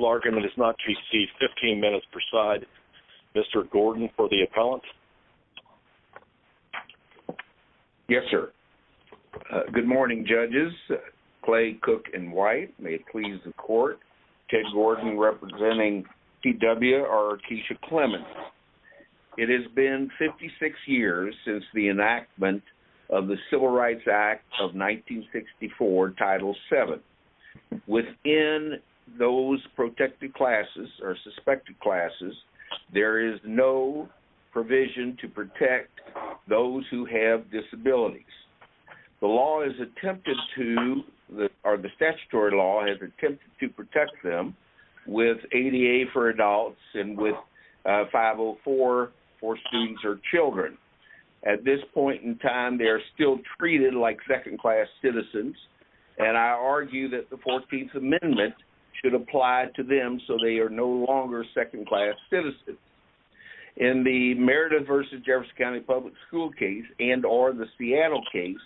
Larkin does not receive 15 minutes per side. Mr. Gordon for the appellant? Yes, sir. Good morning, judges. Clay, Cook, and White, may it please the court. Ted Gordon representing T.W. or Keisha Clemons. It has been 56 years since the enactment of the Civil Rights Act of 1964, Title VII. Within those protected classes or suspected classes, there is no provision to protect those who have disabilities. The statutory law has attempted to protect them with ADA for adults and with 504 for students or children. At this point in time, they are still treated like second class citizens, and I argue that the 14th Amendment should apply to them so they are no longer second class citizens. In the Merida v. Jefferson County public school case and or the Seattle case,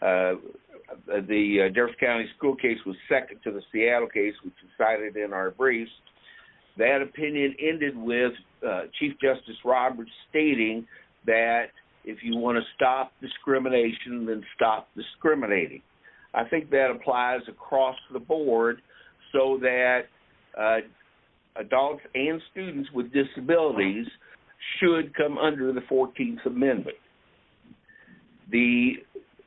the Jefferson County school case was second to the Seattle case, which is cited in our briefs. That opinion ended with Chief Justice Roberts stating that if you want to stop discrimination, then stop discriminating. I think that applies across the board so that adults and students with disabilities should come under the 14th Amendment. The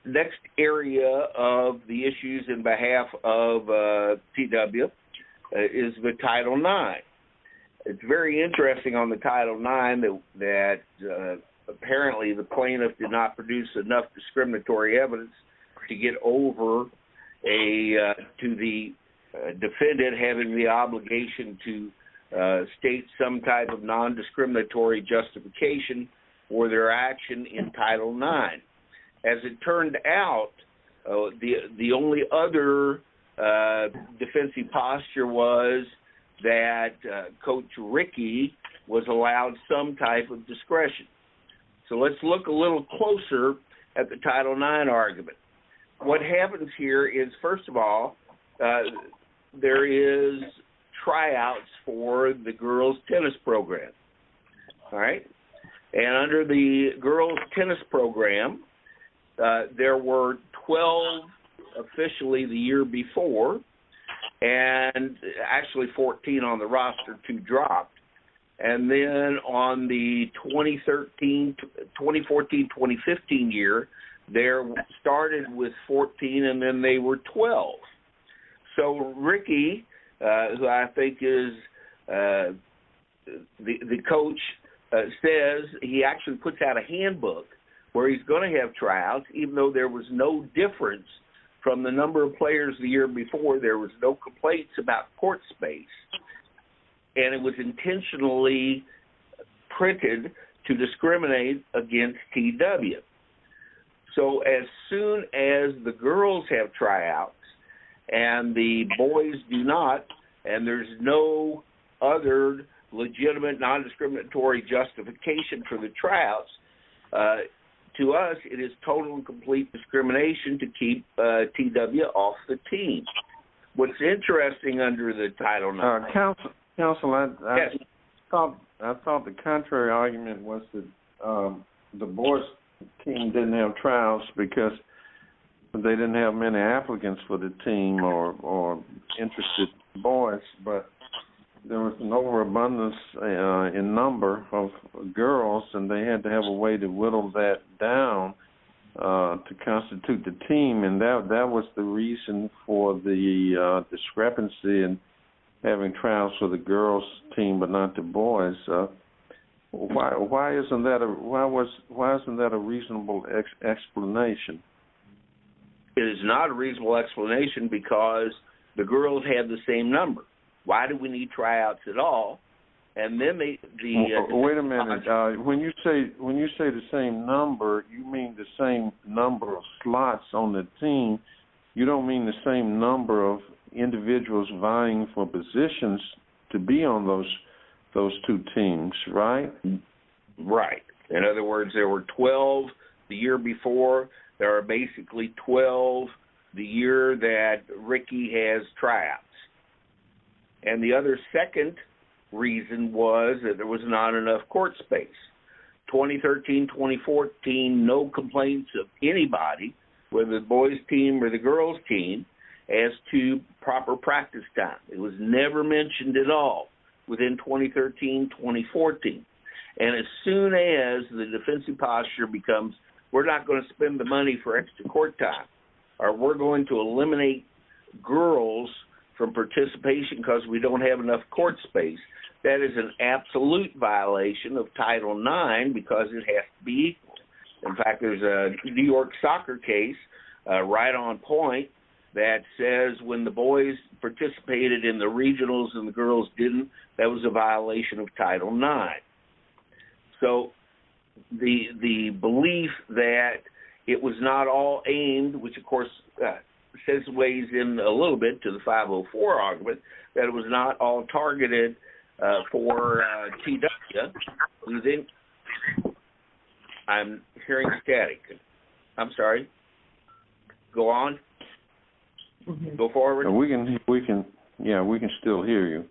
next area of the issues in behalf of T.W. is the Title IX. It's very interesting on the Title IX that apparently the plaintiff did not produce enough discriminatory evidence to get over to the defendant having the obligation to state some type of nondiscriminatory justification for their action in Title IX. As it turned out, the only other defensive posture was that Coach Rickey was allowed some type of discretion. So let's look a little closer at the Title IX argument. What happens here is, first of all, there is tryouts for the girls tennis program. All right? And under the girls tennis program, there were 12 officially the year 2015. They started with 14 and then they were 12. So Rickey, who I think is the coach, says he actually puts out a handbook where he's going to have tryouts, even though there was no difference from the number of players the year before. There was no complaints about court space. And it was intentionally printed to discriminate against T.W. So as soon as the girls have tryouts and the boys do not, and there's no other legitimate nondiscriminatory justification for the tryouts, to us it is total and complete discrimination to keep T.W. off the Title IX. Council, I thought the contrary argument was that the boys team didn't have tryouts because they didn't have many applicants for the team or interested boys, but there was an overabundance in number of girls and they had to have a way to whittle that down to constitute the team. And that was the reason for the discrepancy in having tryouts for the girls team but not the boys. Why isn't that a reasonable explanation? It is not a reasonable explanation because the girls had the same number. Why do we need tryouts at all? And then the... You don't mean the same number of individuals vying for positions to be on those two teams, right? Right. In other words, there were 12 the year before. There are basically 12 the year that Ricky has tryouts. And the other second reason was that there was not enough court space. 2013-2014, no complaints of anybody, whether the boys team or the girls team, as to proper practice time. It was never mentioned at all within 2013-2014. And as soon as the defensive posture becomes we're not going to spend the money for extra court time or we're going to eliminate girls from participation because we don't have enough court space. That is an absolute violation of Title IX because it has to be equal. In fact, there's a New York soccer case right on point that says when the boys participated in the regionals and the girls didn't, that was a violation of Title IX. So the belief that it was not all aimed, which of course says ways in a little bit to the 504 argument, that it was not all targeted for T. Duxta. I'm hearing static. I'm sorry. Go on. Go forward. We can still hear you.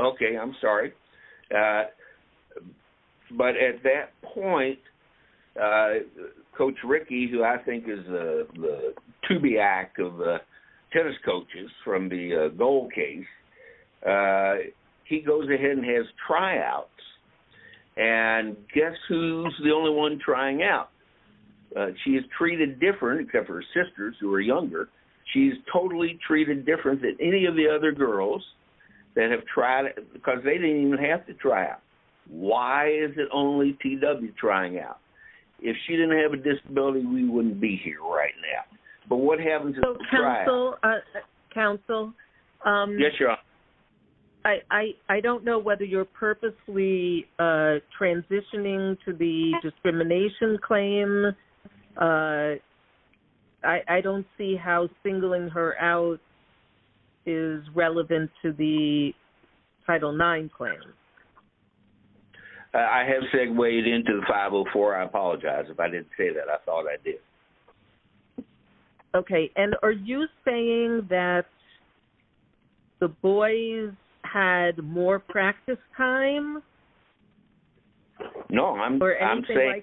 Okay. I'm sorry. But at that point, Coach Ricky, who I think is the of the tennis coaches from the Gold case, he goes ahead and has tryouts. And guess who's the only one trying out? She is treated different, except for her sisters, who are younger. She's totally treated different than any of the other girls that have tried it because they didn't even have to try out. Why is it only T.W. trying out? If she didn't have a disability, we wouldn't be here right now. But what happened to the tryouts? Counsel, I don't know whether you're purposely transitioning to the discrimination claim. I don't see how singling her out is relevant to the Title IX claim. I have segued into the 504. I apologize if I didn't say that. I thought I did. Okay. And are you saying that the boys had more practice time? No. I'm saying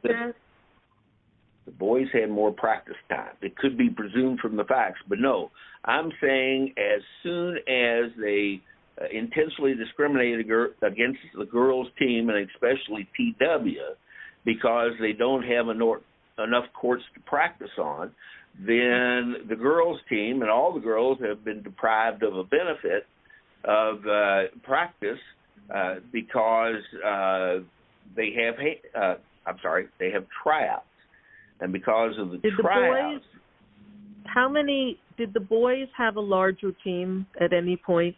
the boys had more practice time. It could be presumed from the facts. But no, I'm saying as soon as they intensely discriminated against the girls' team, and especially T.W., because they don't have enough courts to practice on, then the girls' team and all the girls have been deprived of a benefit of practice because they have tryouts. And because of the tryouts... Did the boys have a larger team at any point?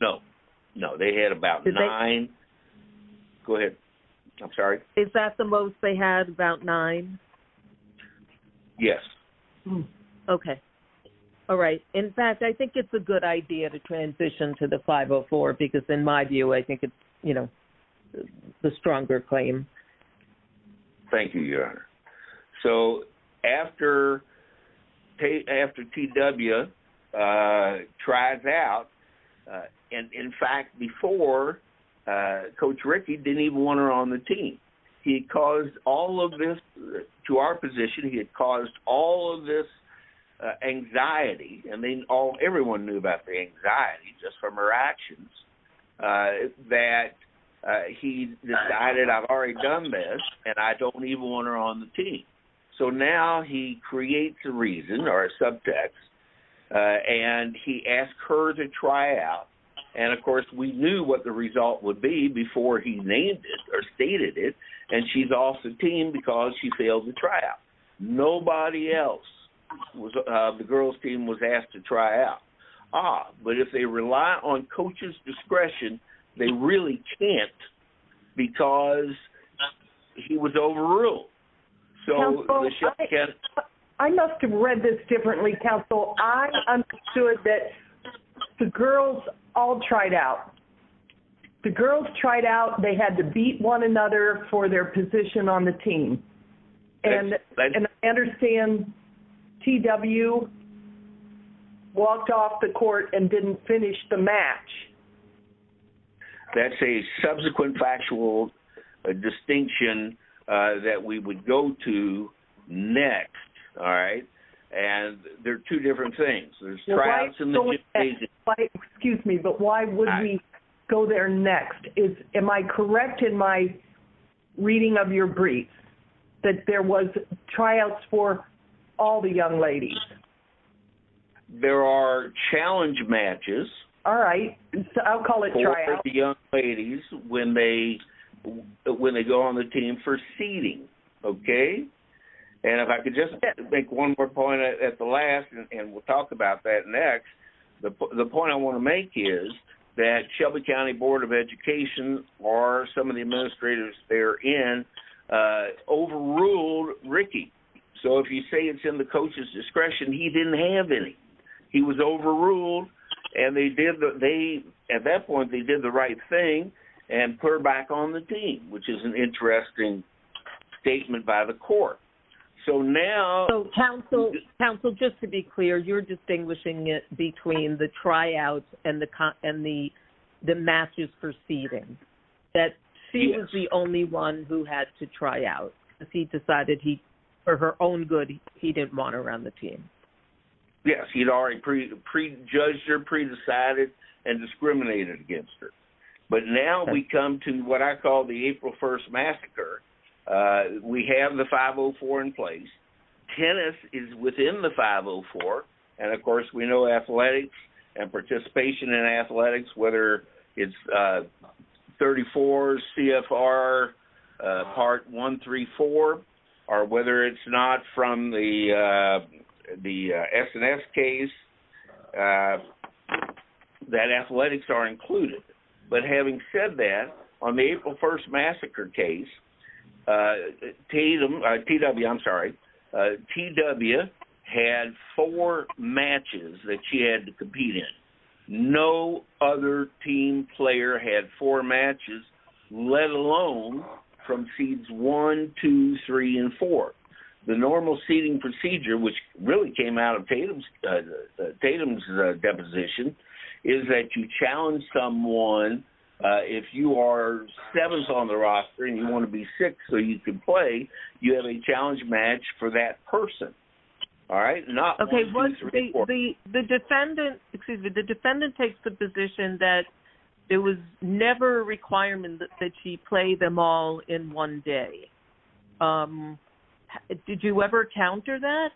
No. No. They had about nine. Go ahead. I'm sorry. Is that the most they had, about nine? Yes. Okay. All right. In fact, I think it's a good idea to transition to the 504, because in my view, I think it's the stronger claim. Thank you, Your Honor. So after T.W. tries out, and in fact, before, Coach Rickey didn't even want her on the team. He caused all of this to our position. He had all of this anxiety. I mean, everyone knew about the anxiety just from her actions, that he decided, I've already done this, and I don't even want her on the team. So now he creates a reason or a subtext, and he asks her to try out. And of course, we knew what the result would be before he named it or stated it. And she's off the team because she failed the tryout. Nobody else on the girls team was asked to try out. Ah, but if they rely on coaches' discretion, they really can't, because he was overruled. I must have read this differently, Counsel. I understood that the girls all tried out. The girls tried out. They had to beat one another for their position on the team. And I understand T.W. walked off the court and didn't finish the match. That's a subsequent factual distinction that we would go to next, all right? And there are two go there next. Am I correct in my reading of your brief that there was tryouts for all the young ladies? There are challenge matches. All right. I'll call it tryouts. For the young ladies when they go on the team for seating, okay? And if I could just make one more point at the last, and we'll talk about that next, the point I want to make is that Shelby County Board of Education or some of the administrators therein overruled Ricky. So if you say it's in the coach's discretion, he didn't have any. He was overruled. And they did the, they, at that point, they did the right thing and put her back on the team, which is an interesting statement by the court. So now... Yes, he had already pre-judged her, pre-decided and discriminated against her. But now we come to what I call the April 1st massacre. We have the 504 in place. Tennis is within the 504. And, of course, we know athletics and participation in athletics, whether it's 34 CFR part 134 or whether it's not from the S&S case, that athletics are included. But having said that, on the April 1st massacre case, Tatum, T.W., I'm sorry, T.W. had four matches that she had to compete in. No other team player had four matches, let alone from seats one, two, three, and four. The normal seating procedure, which really came out of Tatum's deposition, is that you challenge someone. If you are sevens on the roster and you want to be six so you can play, you have a challenge match for that person, all right, not one, two, three, four. Okay. The defendant takes the position that it was never a requirement that she play them all in one day. Did you ever counter that?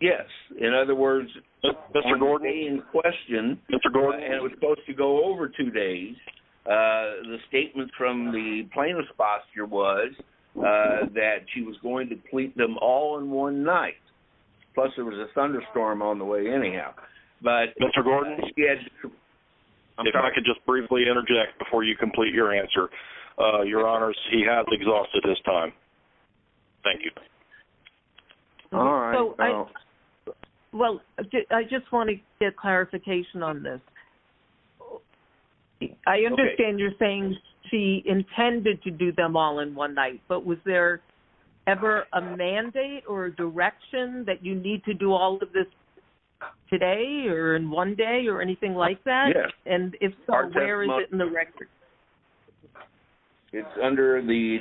Yes. In other words, on the day in question, and it was supposed to go over two days, the statement from the plaintiff's foster was that she was going to complete them all in one night. Plus there was a thunderstorm on the way anyhow. Mr. Gordon, if I could just briefly interject before you complete your answer. Your honors, he has exhausted his time. Thank you. All right. Well, I just want to get clarification on this. I understand you're saying she intended to do them all in one night, but was there ever a mandate or direction that you need to do all of this today or in one day or anything like that? And if so, where is it in the record? It's under the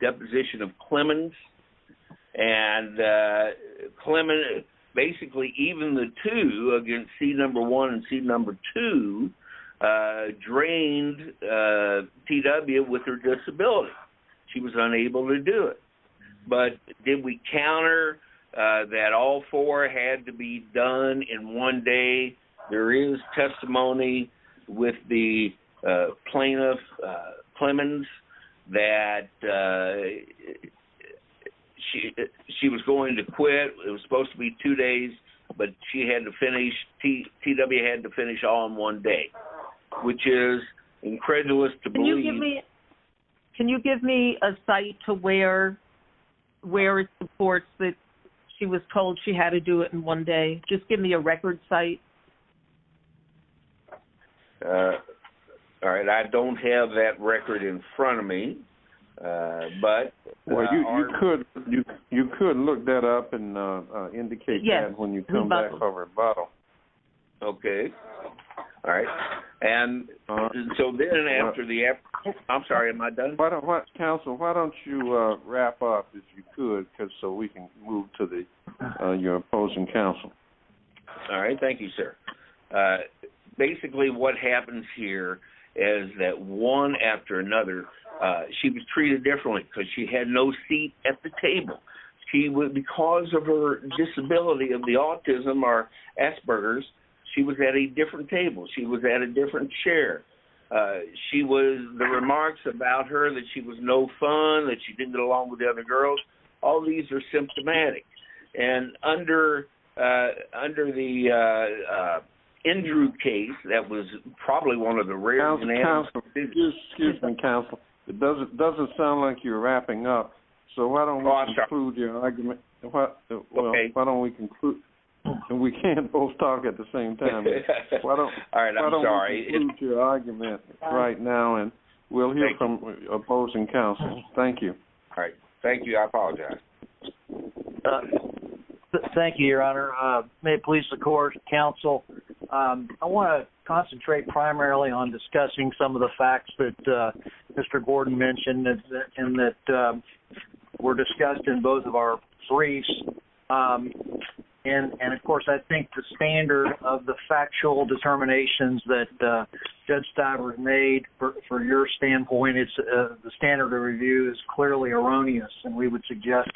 deposition of Clemons. And Clemons, basically even the two against seat number one and seat number two drained TW with her disability. She was unable to do it. But did we counter that all four had to be done in one day? There is testimony with the plaintiff Clemons that she was going to quit. It was supposed to be two days, but TW had to finish all in one day, which is incredulous. Can you give me a site to where it supports that she was told she had to do it in one day? Just give me a record site. All right. I don't have that record in front of me. Well, you could look that up and indicate that when you come back. Okay. All right. I'm sorry, am I done? Counsel, why don't you wrap up if you could so we can move to your opposing counsel. All right. Thank you, sir. Basically, what happens here is that one after another, she was treated differently because she had no seat at the table. Because of her disability of autism or Asperger's, she was at a different table. She was at a different chair. She was the remarks about her that she was no fun, that she didn't get along with the other girls. All these are symptomatic. And under the Andrew case, that was probably one of the rarest. Excuse me, counsel. It doesn't sound like you're wrapping up. So why don't we conclude your and we can't both talk at the same time. Why don't we conclude your argument right now and we'll hear from opposing counsel. Thank you. All right. Thank you. I apologize. Thank you, your honor. May it please the court, counsel. I want to concentrate primarily on discussing some of the facts that Mr. Gordon mentioned and that were discussed in both of our hearings. And of course, I think the standard of the factual determinations that Judge Stivers made for your standpoint, the standard of review is clearly erroneous and we would suggest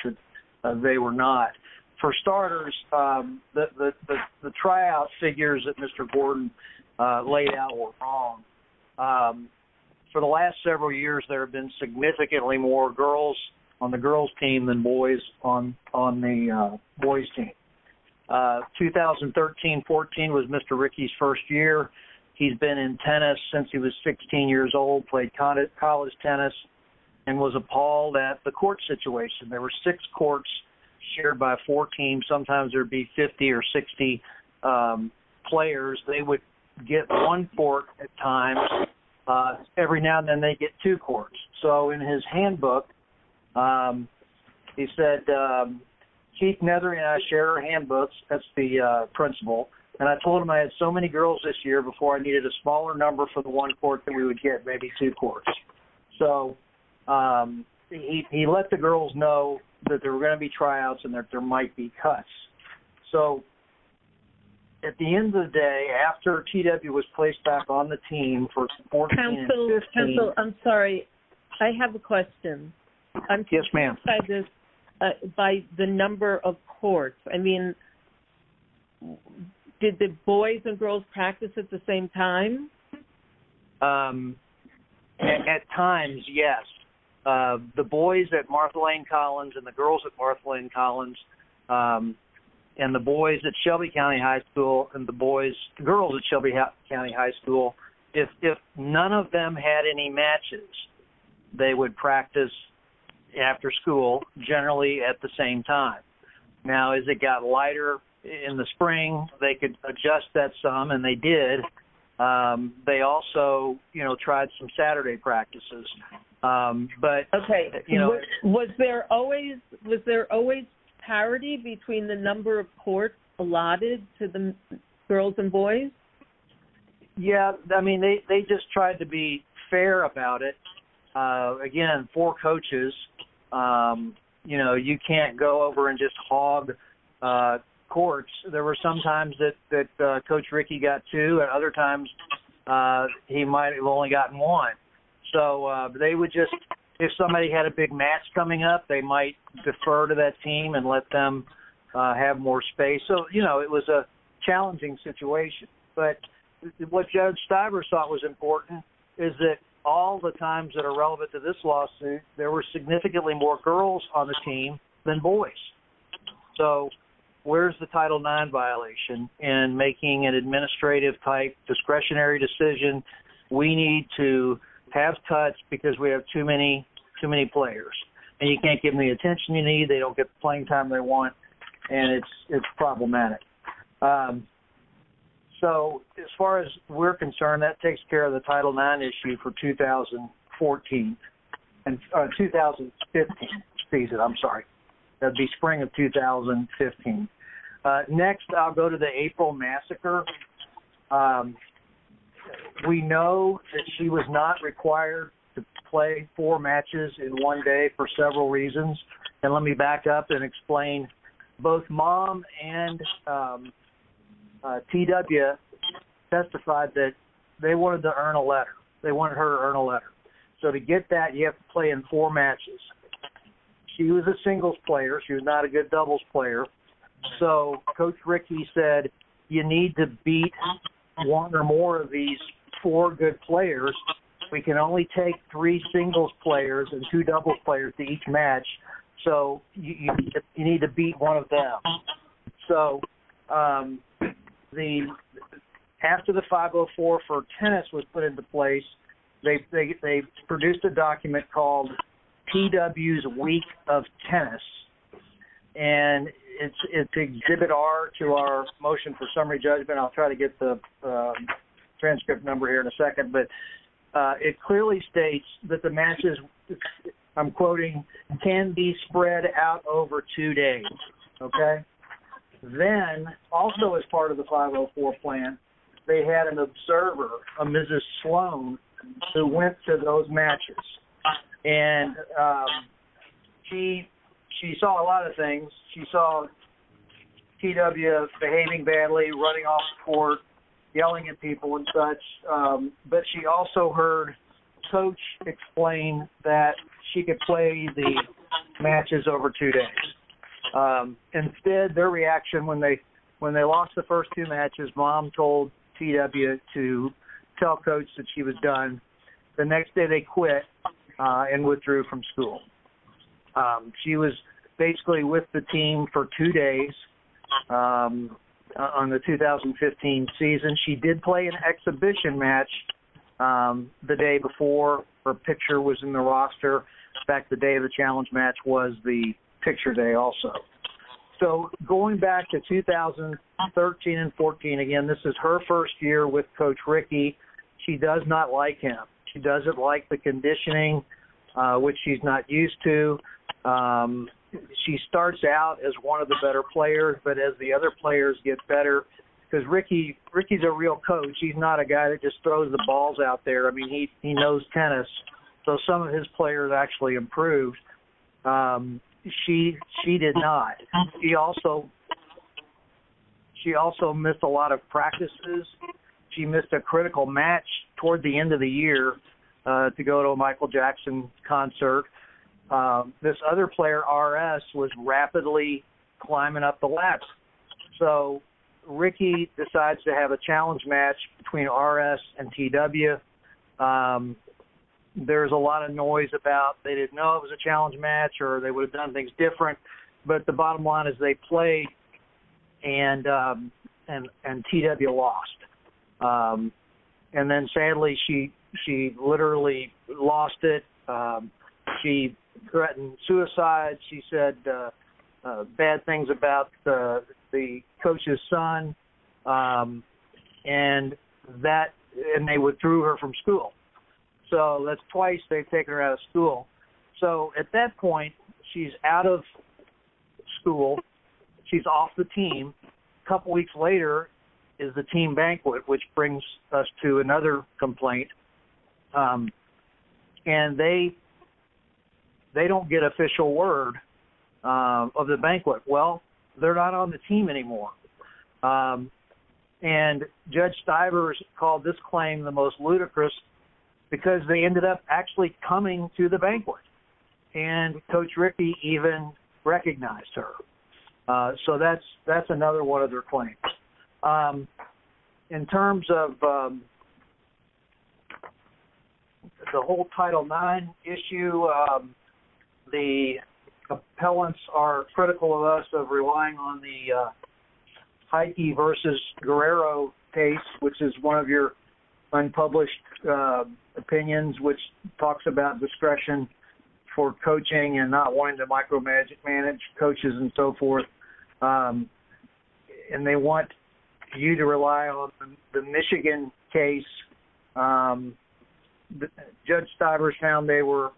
that they were not. For starters, the tryout figures that Mr. Gordon laid out were wrong. For the last several years, there have been significantly more girls on the girls team than boys on the boys team. 2013-14 was Mr. Rickey's first year. He's been in tennis since he was 16 years old, played college tennis, and was appalled at the court situation. There were six courts shared by four teams. Sometimes there would be 50 or 60 players. They would get one at a time. Every now and then, they would get two courts. In his handbook, he said, Keith Nethery and I share handbooks. That's the principle. I told him I had so many girls this year before I needed a smaller number for the one court that we would get, maybe two courts. He let the girls know that there were going to be tryouts and that there might be cuts. So, at the end of the day, after TW was placed back on the team for 2014-15... Counsel, I'm sorry. I have a question. Yes, ma'am. By the number of courts, I mean, did the boys and girls practice at the same time? At times, yes. The boys at Martha Lane Collins and the girls at Martha Lane Collins and the boys at Shelby County High School, if none of them had any matches, they would practice after school generally at the same time. Now, as it got lighter in the spring, they could adjust that some, and they did. They also tried some Saturday practices. Okay. Was there always parity between the number of courts allotted to the girls and boys? Yes. They just tried to be fair about it. Again, four coaches, you can't go over and just hog courts. There were some times that Coach Rickey got two, and other times he might have only gotten one. So, they would just... If somebody had a big match coming up, they might defer to that team and let them have more space. So, it was a challenging situation. But what Judge Stiver thought was important is that all the times that are relevant to this lawsuit, there were significantly more girls on the team than boys. So, where's the Title IX violation in making an administrative type discretionary decision? We need to have touch because we have too many players. And you can't give them the attention you need. They don't get the playing time they want, and it's problematic. So, as far as we're concerned, that takes care of the Title IX issue for 2015. Next, I'll go to the April massacre. We know that she was not required to play four matches in one day for several reasons. Let me back up and explain. Both Mom and TW testified that they wanted to earn a letter. They wanted her to earn a letter. So, to get that, you have to play in four matches. She was a singles player. She was not a good doubles player. So, Coach Rickey said, you need to beat one or more of these four good players. We can only take three singles players and two doubles players to each match. So, you need to beat one of them. So, after the 504 for tennis was put into place, they produced a document called TW's Week of Tennis. And it's exhibit R to our motion for summary judgment. I'll try to get the I'm quoting, can be spread out over two days. Okay? Then, also as part of the 504 plan, they had an observer, a Mrs. Sloan, who went to those matches. And she saw a lot of things. She saw TW behaving badly, running off the court, yelling at people and such. But she also heard Coach explain that she could play the matches over two days. Instead, their reaction when they lost the first two matches, Mom told TW to tell Coach that she was done. The next day, they quit and withdrew from school. She was basically with the team for two days on the 2015 season. She did play an exhibition match the day before her picture was in the roster. In fact, the day of the challenge match was the picture day also. So, going back to 2013 and 14, again, this is her first year with Coach Rickey. She does not like him. She doesn't like the conditioning, which she's not used to. She starts out as one of the better players, but as the other players get better, she starts out as one of the better because Rickey's a real coach. He's not a guy that just throws the balls out there. I mean, he knows tennis. So some of his players actually improved. She did not. She also missed a lot of practices. She missed a critical match toward the end of the year to go to a Michael Jackson concert. This other player, R.S., was rapidly climbing up the laps. So, Rickey decides to have a challenge match between R.S. and T.W. There's a lot of noise about they didn't know it was a challenge match or they would have done things different, but the bottom line is they played and T.W. lost. And then, sadly, she literally lost it. She threatened suicide. She said bad things about the coach's son, and they withdrew her from school. So that's twice they've taken her out of school. So at that point, she's out of school. She's off the team. A couple weeks later is the team banquet, which brings us to another complaint. And they don't get official word of the banquet. Well, they're not on the team anymore. And Judge Stivers called this claim the most ludicrous because they ended up actually coming to the banquet. And Coach Rickey even recognized her. So that's another one of their claims. In terms of the whole Title IX issue, the appellants are critical of us of relying on the Heike versus Guerrero case, which is one of your unpublished opinions, which talks about discretion for coaching and not wanting to micromagic manage coaches and so forth. And they want you to rely on the Michigan case. Judge Stivers found they were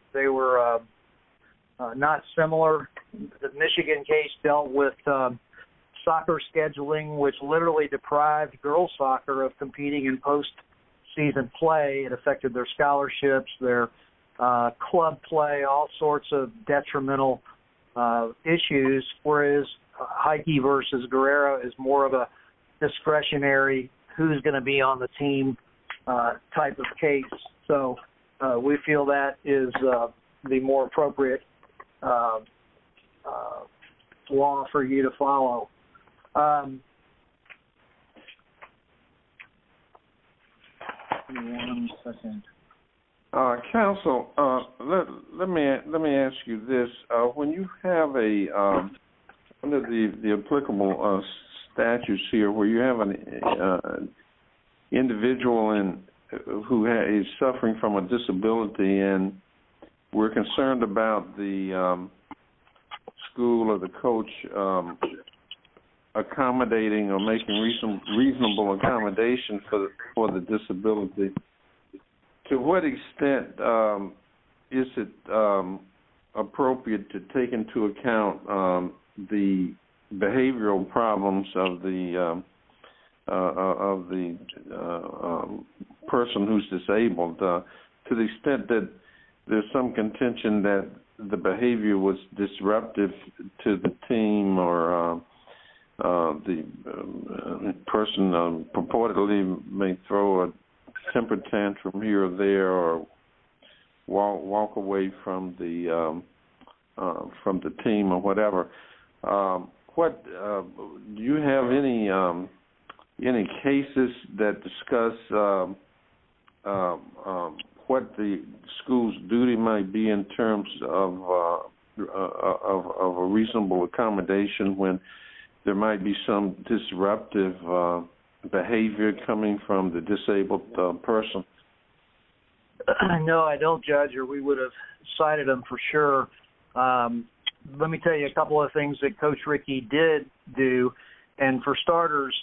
not similar. The Michigan case dealt with soccer scheduling, which literally deprived girls soccer of club play, all sorts of detrimental issues, whereas Heike versus Guerrero is more of a discretionary who's going to be on the team type of case. So we feel that is the more appropriate law for you to follow. Counsel, let me ask you this. When you have one of the applicable statutes here where you have an individual who is suffering from a disability and we're concerned about the school or the coach accommodating or making reasonable accommodation for the disability, to what extent is it person who's disabled, to the extent that there's some contention that the behavior was disruptive to the team or the person purportedly may throw a temper tantrum here or there or walk away from the team or whatever, do you have any cases that discuss what the school's duty might be in terms of a reasonable accommodation when there might be some disruptive behavior coming from the disabled person? No, I don't judge or we would have cited them for sure. Let me tell you a couple of things that Coach Rickey did do. For starters,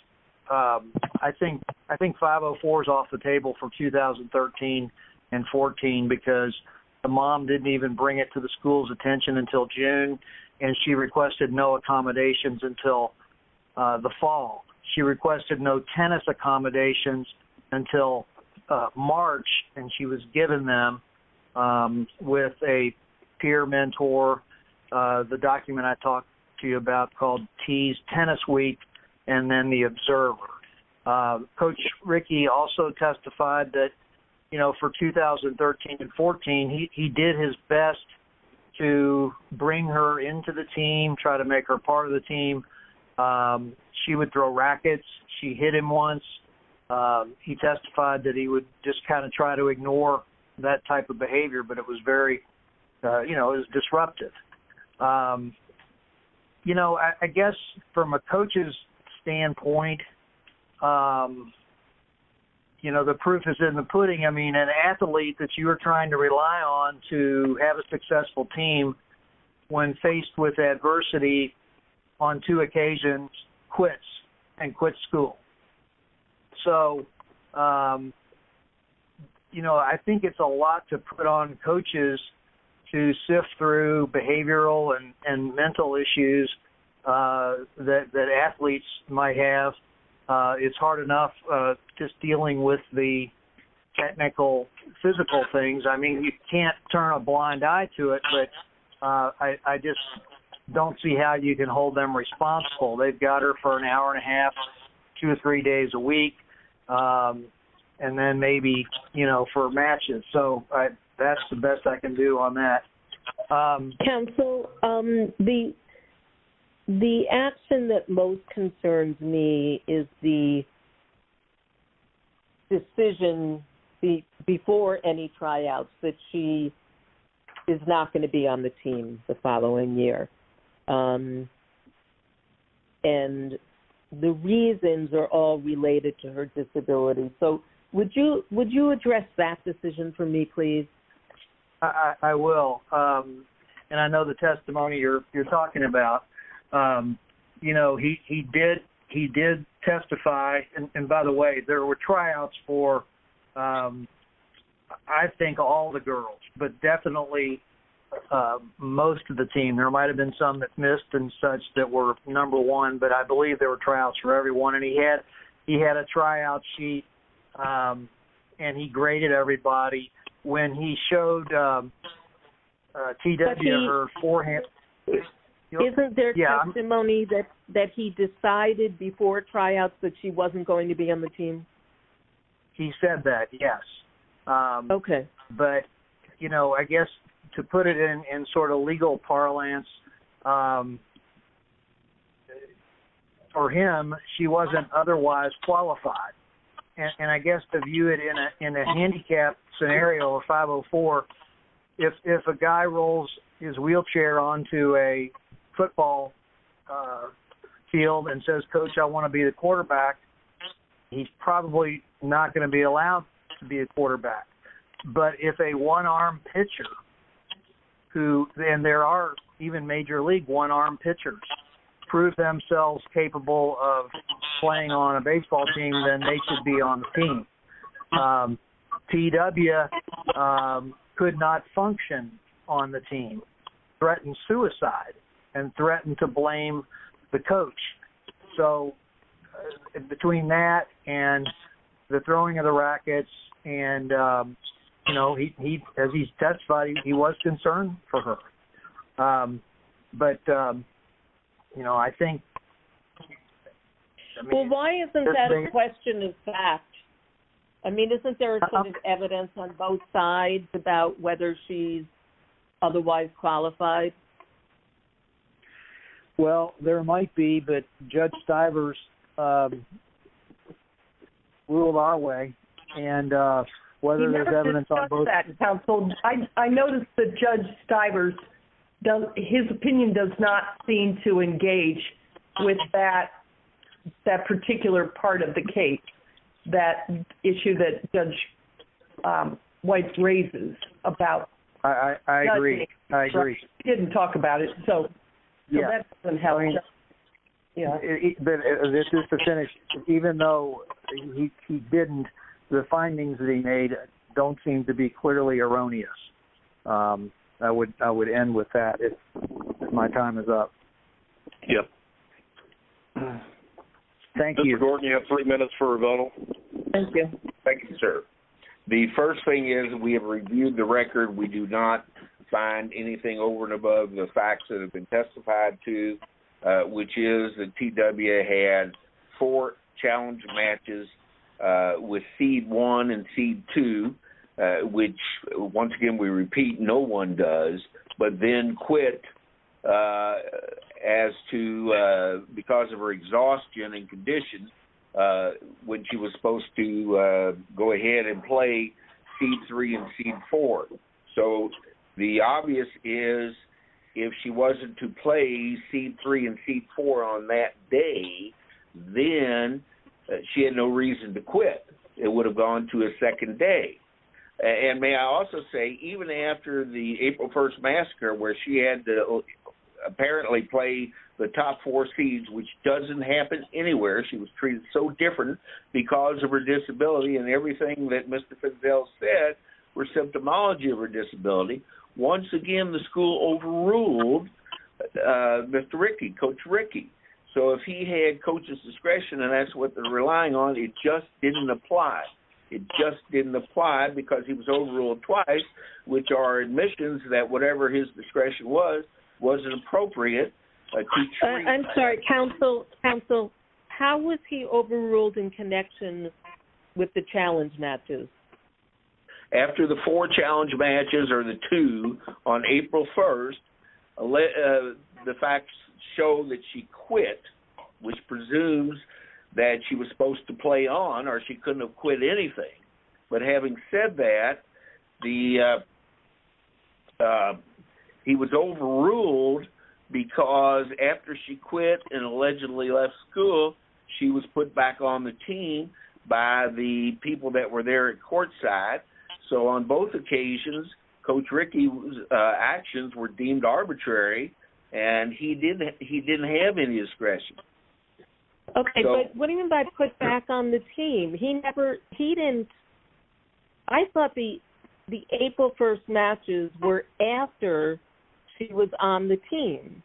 I think 504 is off the table for 2013 and 2014 because the mom didn't even bring it to the school's attention until June, and she requested no accommodations until the fall. She requested no tennis accommodations until March, and she was given them with a peer mentor, the document I talked to you about called T's Tennis Week and then the Observer. Coach Rickey also testified that for 2013 and 2014, he did his best to bring her into the team, try to make her part of the team. She would throw rackets. She hit him once. He testified that he would just kind of try to ignore that type of behavior, but it was very disruptive. You know, I guess from a coach's standpoint, you know, the proof is in the pudding. I mean, an athlete that you are trying to rely on to have a successful team, when faced with adversity on two occasions, quits and quits school. So, you know, I think it's a lot to put on coaches to sift through behavioral and mental issues that athletes might have. It's hard enough just dealing with the technical, physical things. I just don't see how you can hold them responsible. They've got her for an hour and a half, two or three days a week, and then maybe, you know, for matches. So, that's the best I can do on that. Council, the action that most concerns me is the decision before any tryouts that she is not going to be on the team the following year, and the reasons are all related to her disability. So, would you address that decision for me, please? I will, and I know the testimony you're talking about. You know, he did testify, and by the way, there were tryouts for, I think, all the girls, but definitely most of the team. There might have been some that missed and such that were number one, but I believe there were tryouts for everyone, and he had a tryout sheet, and he graded everybody when he showed T.W. her forehand. Isn't there testimony that he decided before tryouts that she wasn't going to be on the team? He said that, yes. Okay. But, you know, I guess to put it in sort of legal parlance, for him, she wasn't otherwise qualified, and I guess to view it in a handicap scenario of 504, if a guy rolls his wheelchair onto a football field and says, coach, I want to be the quarterback, he's probably not going to be allowed to be a quarterback, but if a one-arm pitcher, and there are even major league one-arm pitchers prove themselves capable of playing on a baseball team, then they should be on the team. T.W. could not function on the team, threatened suicide, and threatened to blame the coach, so between that and the throwing of the question, in fact, I mean, isn't there evidence on both sides about whether she's otherwise qualified? Well, there might be, but Judge Stivers ruled our way, and whether there's evidence on both sides. I noticed that Judge Stivers, his opinion does not seem to engage with that particular part of the case, that issue that Judge Weiss raises about... I agree. I agree. He didn't talk about it, so that doesn't help. This is to finish, even though he didn't, the findings that he made don't seem to be clearly erroneous. I would end with that if my time is up. Yep. Thank you. Mr. Gordon, you have three minutes for rebuttal. Thank you. Thank you, sir. The first thing is we have reviewed the record. We do not find anything over and above the facts that have been testified to, which is that T.W. had four challenge matches with seed one and seed two, which, once again, we repeat, no one does, but then quit because of her exhaustion and condition when she was supposed to go ahead and play seed three and seed four. The obvious is, if she wasn't to play seed three and seed four on that day, then she had no reason to quit. It would have gone to a second day. May I also say, even after the April 1st massacre where she had to apparently play the top four seeds, which doesn't happen anywhere, she was treated so different because of her disability and everything that Mr. Fitzgerald said were symptomology of her rule, Mr. Rickey, Coach Rickey. So, if he had coach's discretion and that's what they're relying on, it just didn't apply. It just didn't apply because he was overruled twice, which are admissions that whatever his discretion was, wasn't appropriate. I'm sorry. Counsel, how was he overruled in connection with the challenge matches? After the four challenge matches or the two on April 1st, the facts show that she quit, which presumes that she was supposed to play on or she couldn't have quit anything. But having said that, he was overruled because after she quit and allegedly left school, she was put back on the team by the people that were there at courtside. So, on both occasions, Coach Rickey's actions were deemed arbitrary and he didn't have any discretion. Okay, but what do you mean by put back on the team? He never, he didn't, I thought the April 1st matches were after she was on the team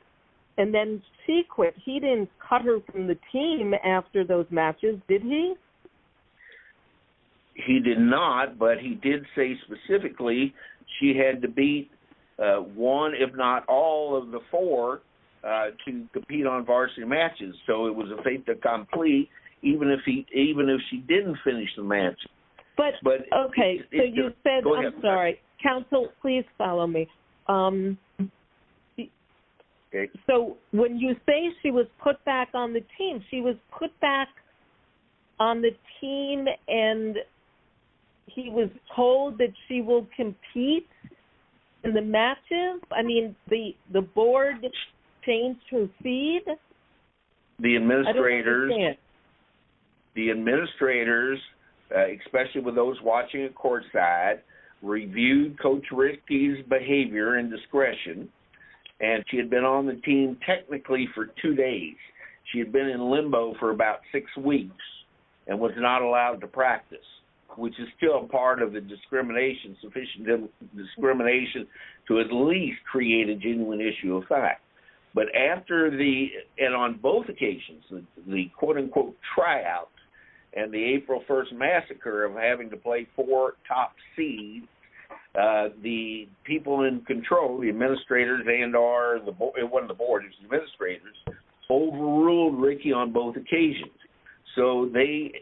and then she quit. He didn't cut her from the team after those matches, did he? He did not, but he did say specifically she had to beat one, if not all of the four to compete on varsity matches. So, it was a fait accompli even if she didn't finish the match. Okay, so you said, I'm sorry. Counsel, please follow me. So, when you say she was put back on the team, she was put back on the team and he was told that she will compete in the matches? I mean, the board changed her feed? The administrators, especially with those watching at courtside, reviewed Coach Rickey's behavior and discretion and she had been on the team technically for two days. She had been in limbo for about six weeks and was not allowed to practice, which is still part of the discrimination, sufficient discrimination to at least create a genuine issue of fact. But after the, and on both occasions, the quote-unquote tryout and the April 1st massacre of having to play four top seeds, the people in control, the administrators and our, it wasn't the board, it was the administrators, overruled Rickey on both occasions. So, they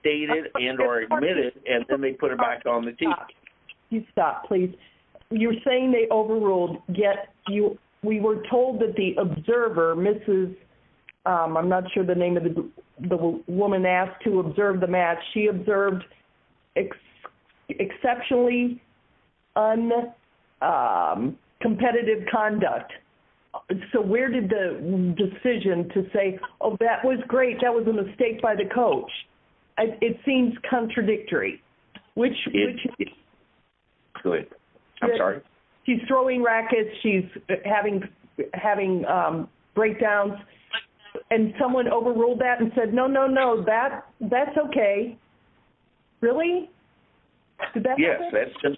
stated and or admitted and then they put her back on the team. Stop, please. You're saying they overruled, yet we were told that the observer, Mrs., I'm not sure the name of the woman asked to observe the match, she observed exceptionally uncompetitive conduct. So, where did the decision to say, oh, that was great, that was a mistake by the coach, it seems contradictory, which she's throwing rackets, she's having breakdowns, and someone overruled that and said, no, no, no, that's okay. Really? Did that happen?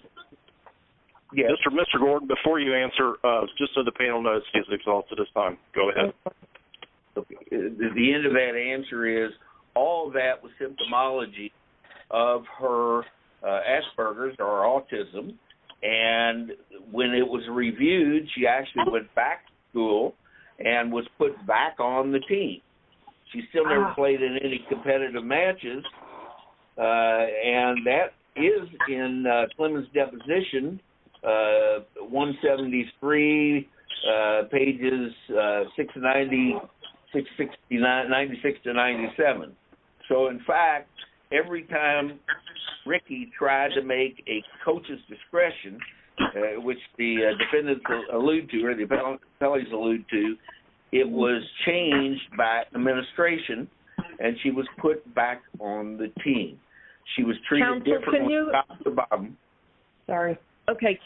Yes. Mr. Gordon, before you answer, just so the panel knows, she's exhausted this time. Go ahead. The end of that answer is, all that was symptomology of her Asperger's or autism, and when it was reviewed, she actually went back to school and was put back on the team. She still never played in any competitive matches, and that is in Clement's deposition, 173, pages 96 to 97. So, in fact, every time Rickey tried to make a coach's discretion, which the defendants allude to, or the appellees allude to, it was changed by administration, and she was put back on the team. She was treated differently. Sorry. Okay.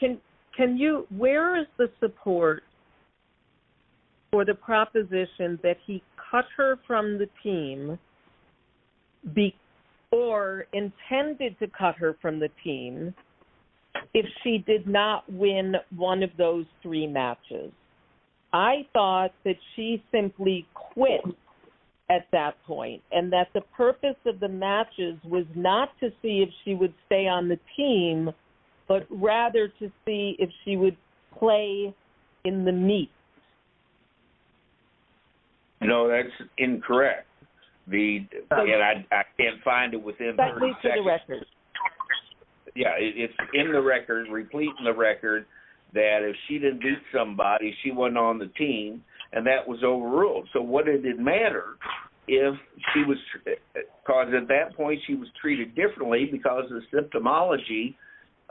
Can you, where is the support for the proposition that he cut her from the team or intended to cut her from the team if she did not win one of those three matches? I thought that she simply quit at that point and that the purpose of the matches was not to see if she would stay on the team, but rather to see if she would play in the meet. No, that's incorrect. I can't find it within 30 seconds. Yeah, it's in the record, replete in the record, that if she didn't beat somebody, she wasn't on the team, and that was overruled. So, what did it matter? Because at that point, she was treated differently because of the symptomology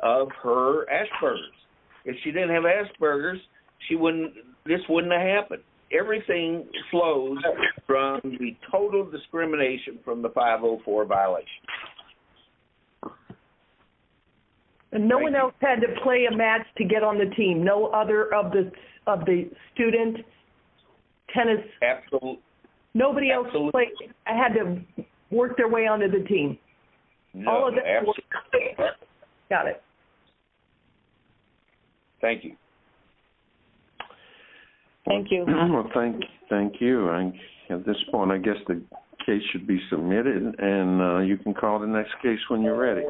of her Asperger's. If she didn't have Asperger's, she wouldn't, this wouldn't have happened. Everything flows from the total discrimination from the 504 violation. And no one else had to play a match to get on the team. No other of the student tennis, nobody else had to work their way onto the team. No, absolutely. Got it. Thank you. Thank you. Thank you. At this point, I guess the case should be submitted, and you can call the next case when you're ready.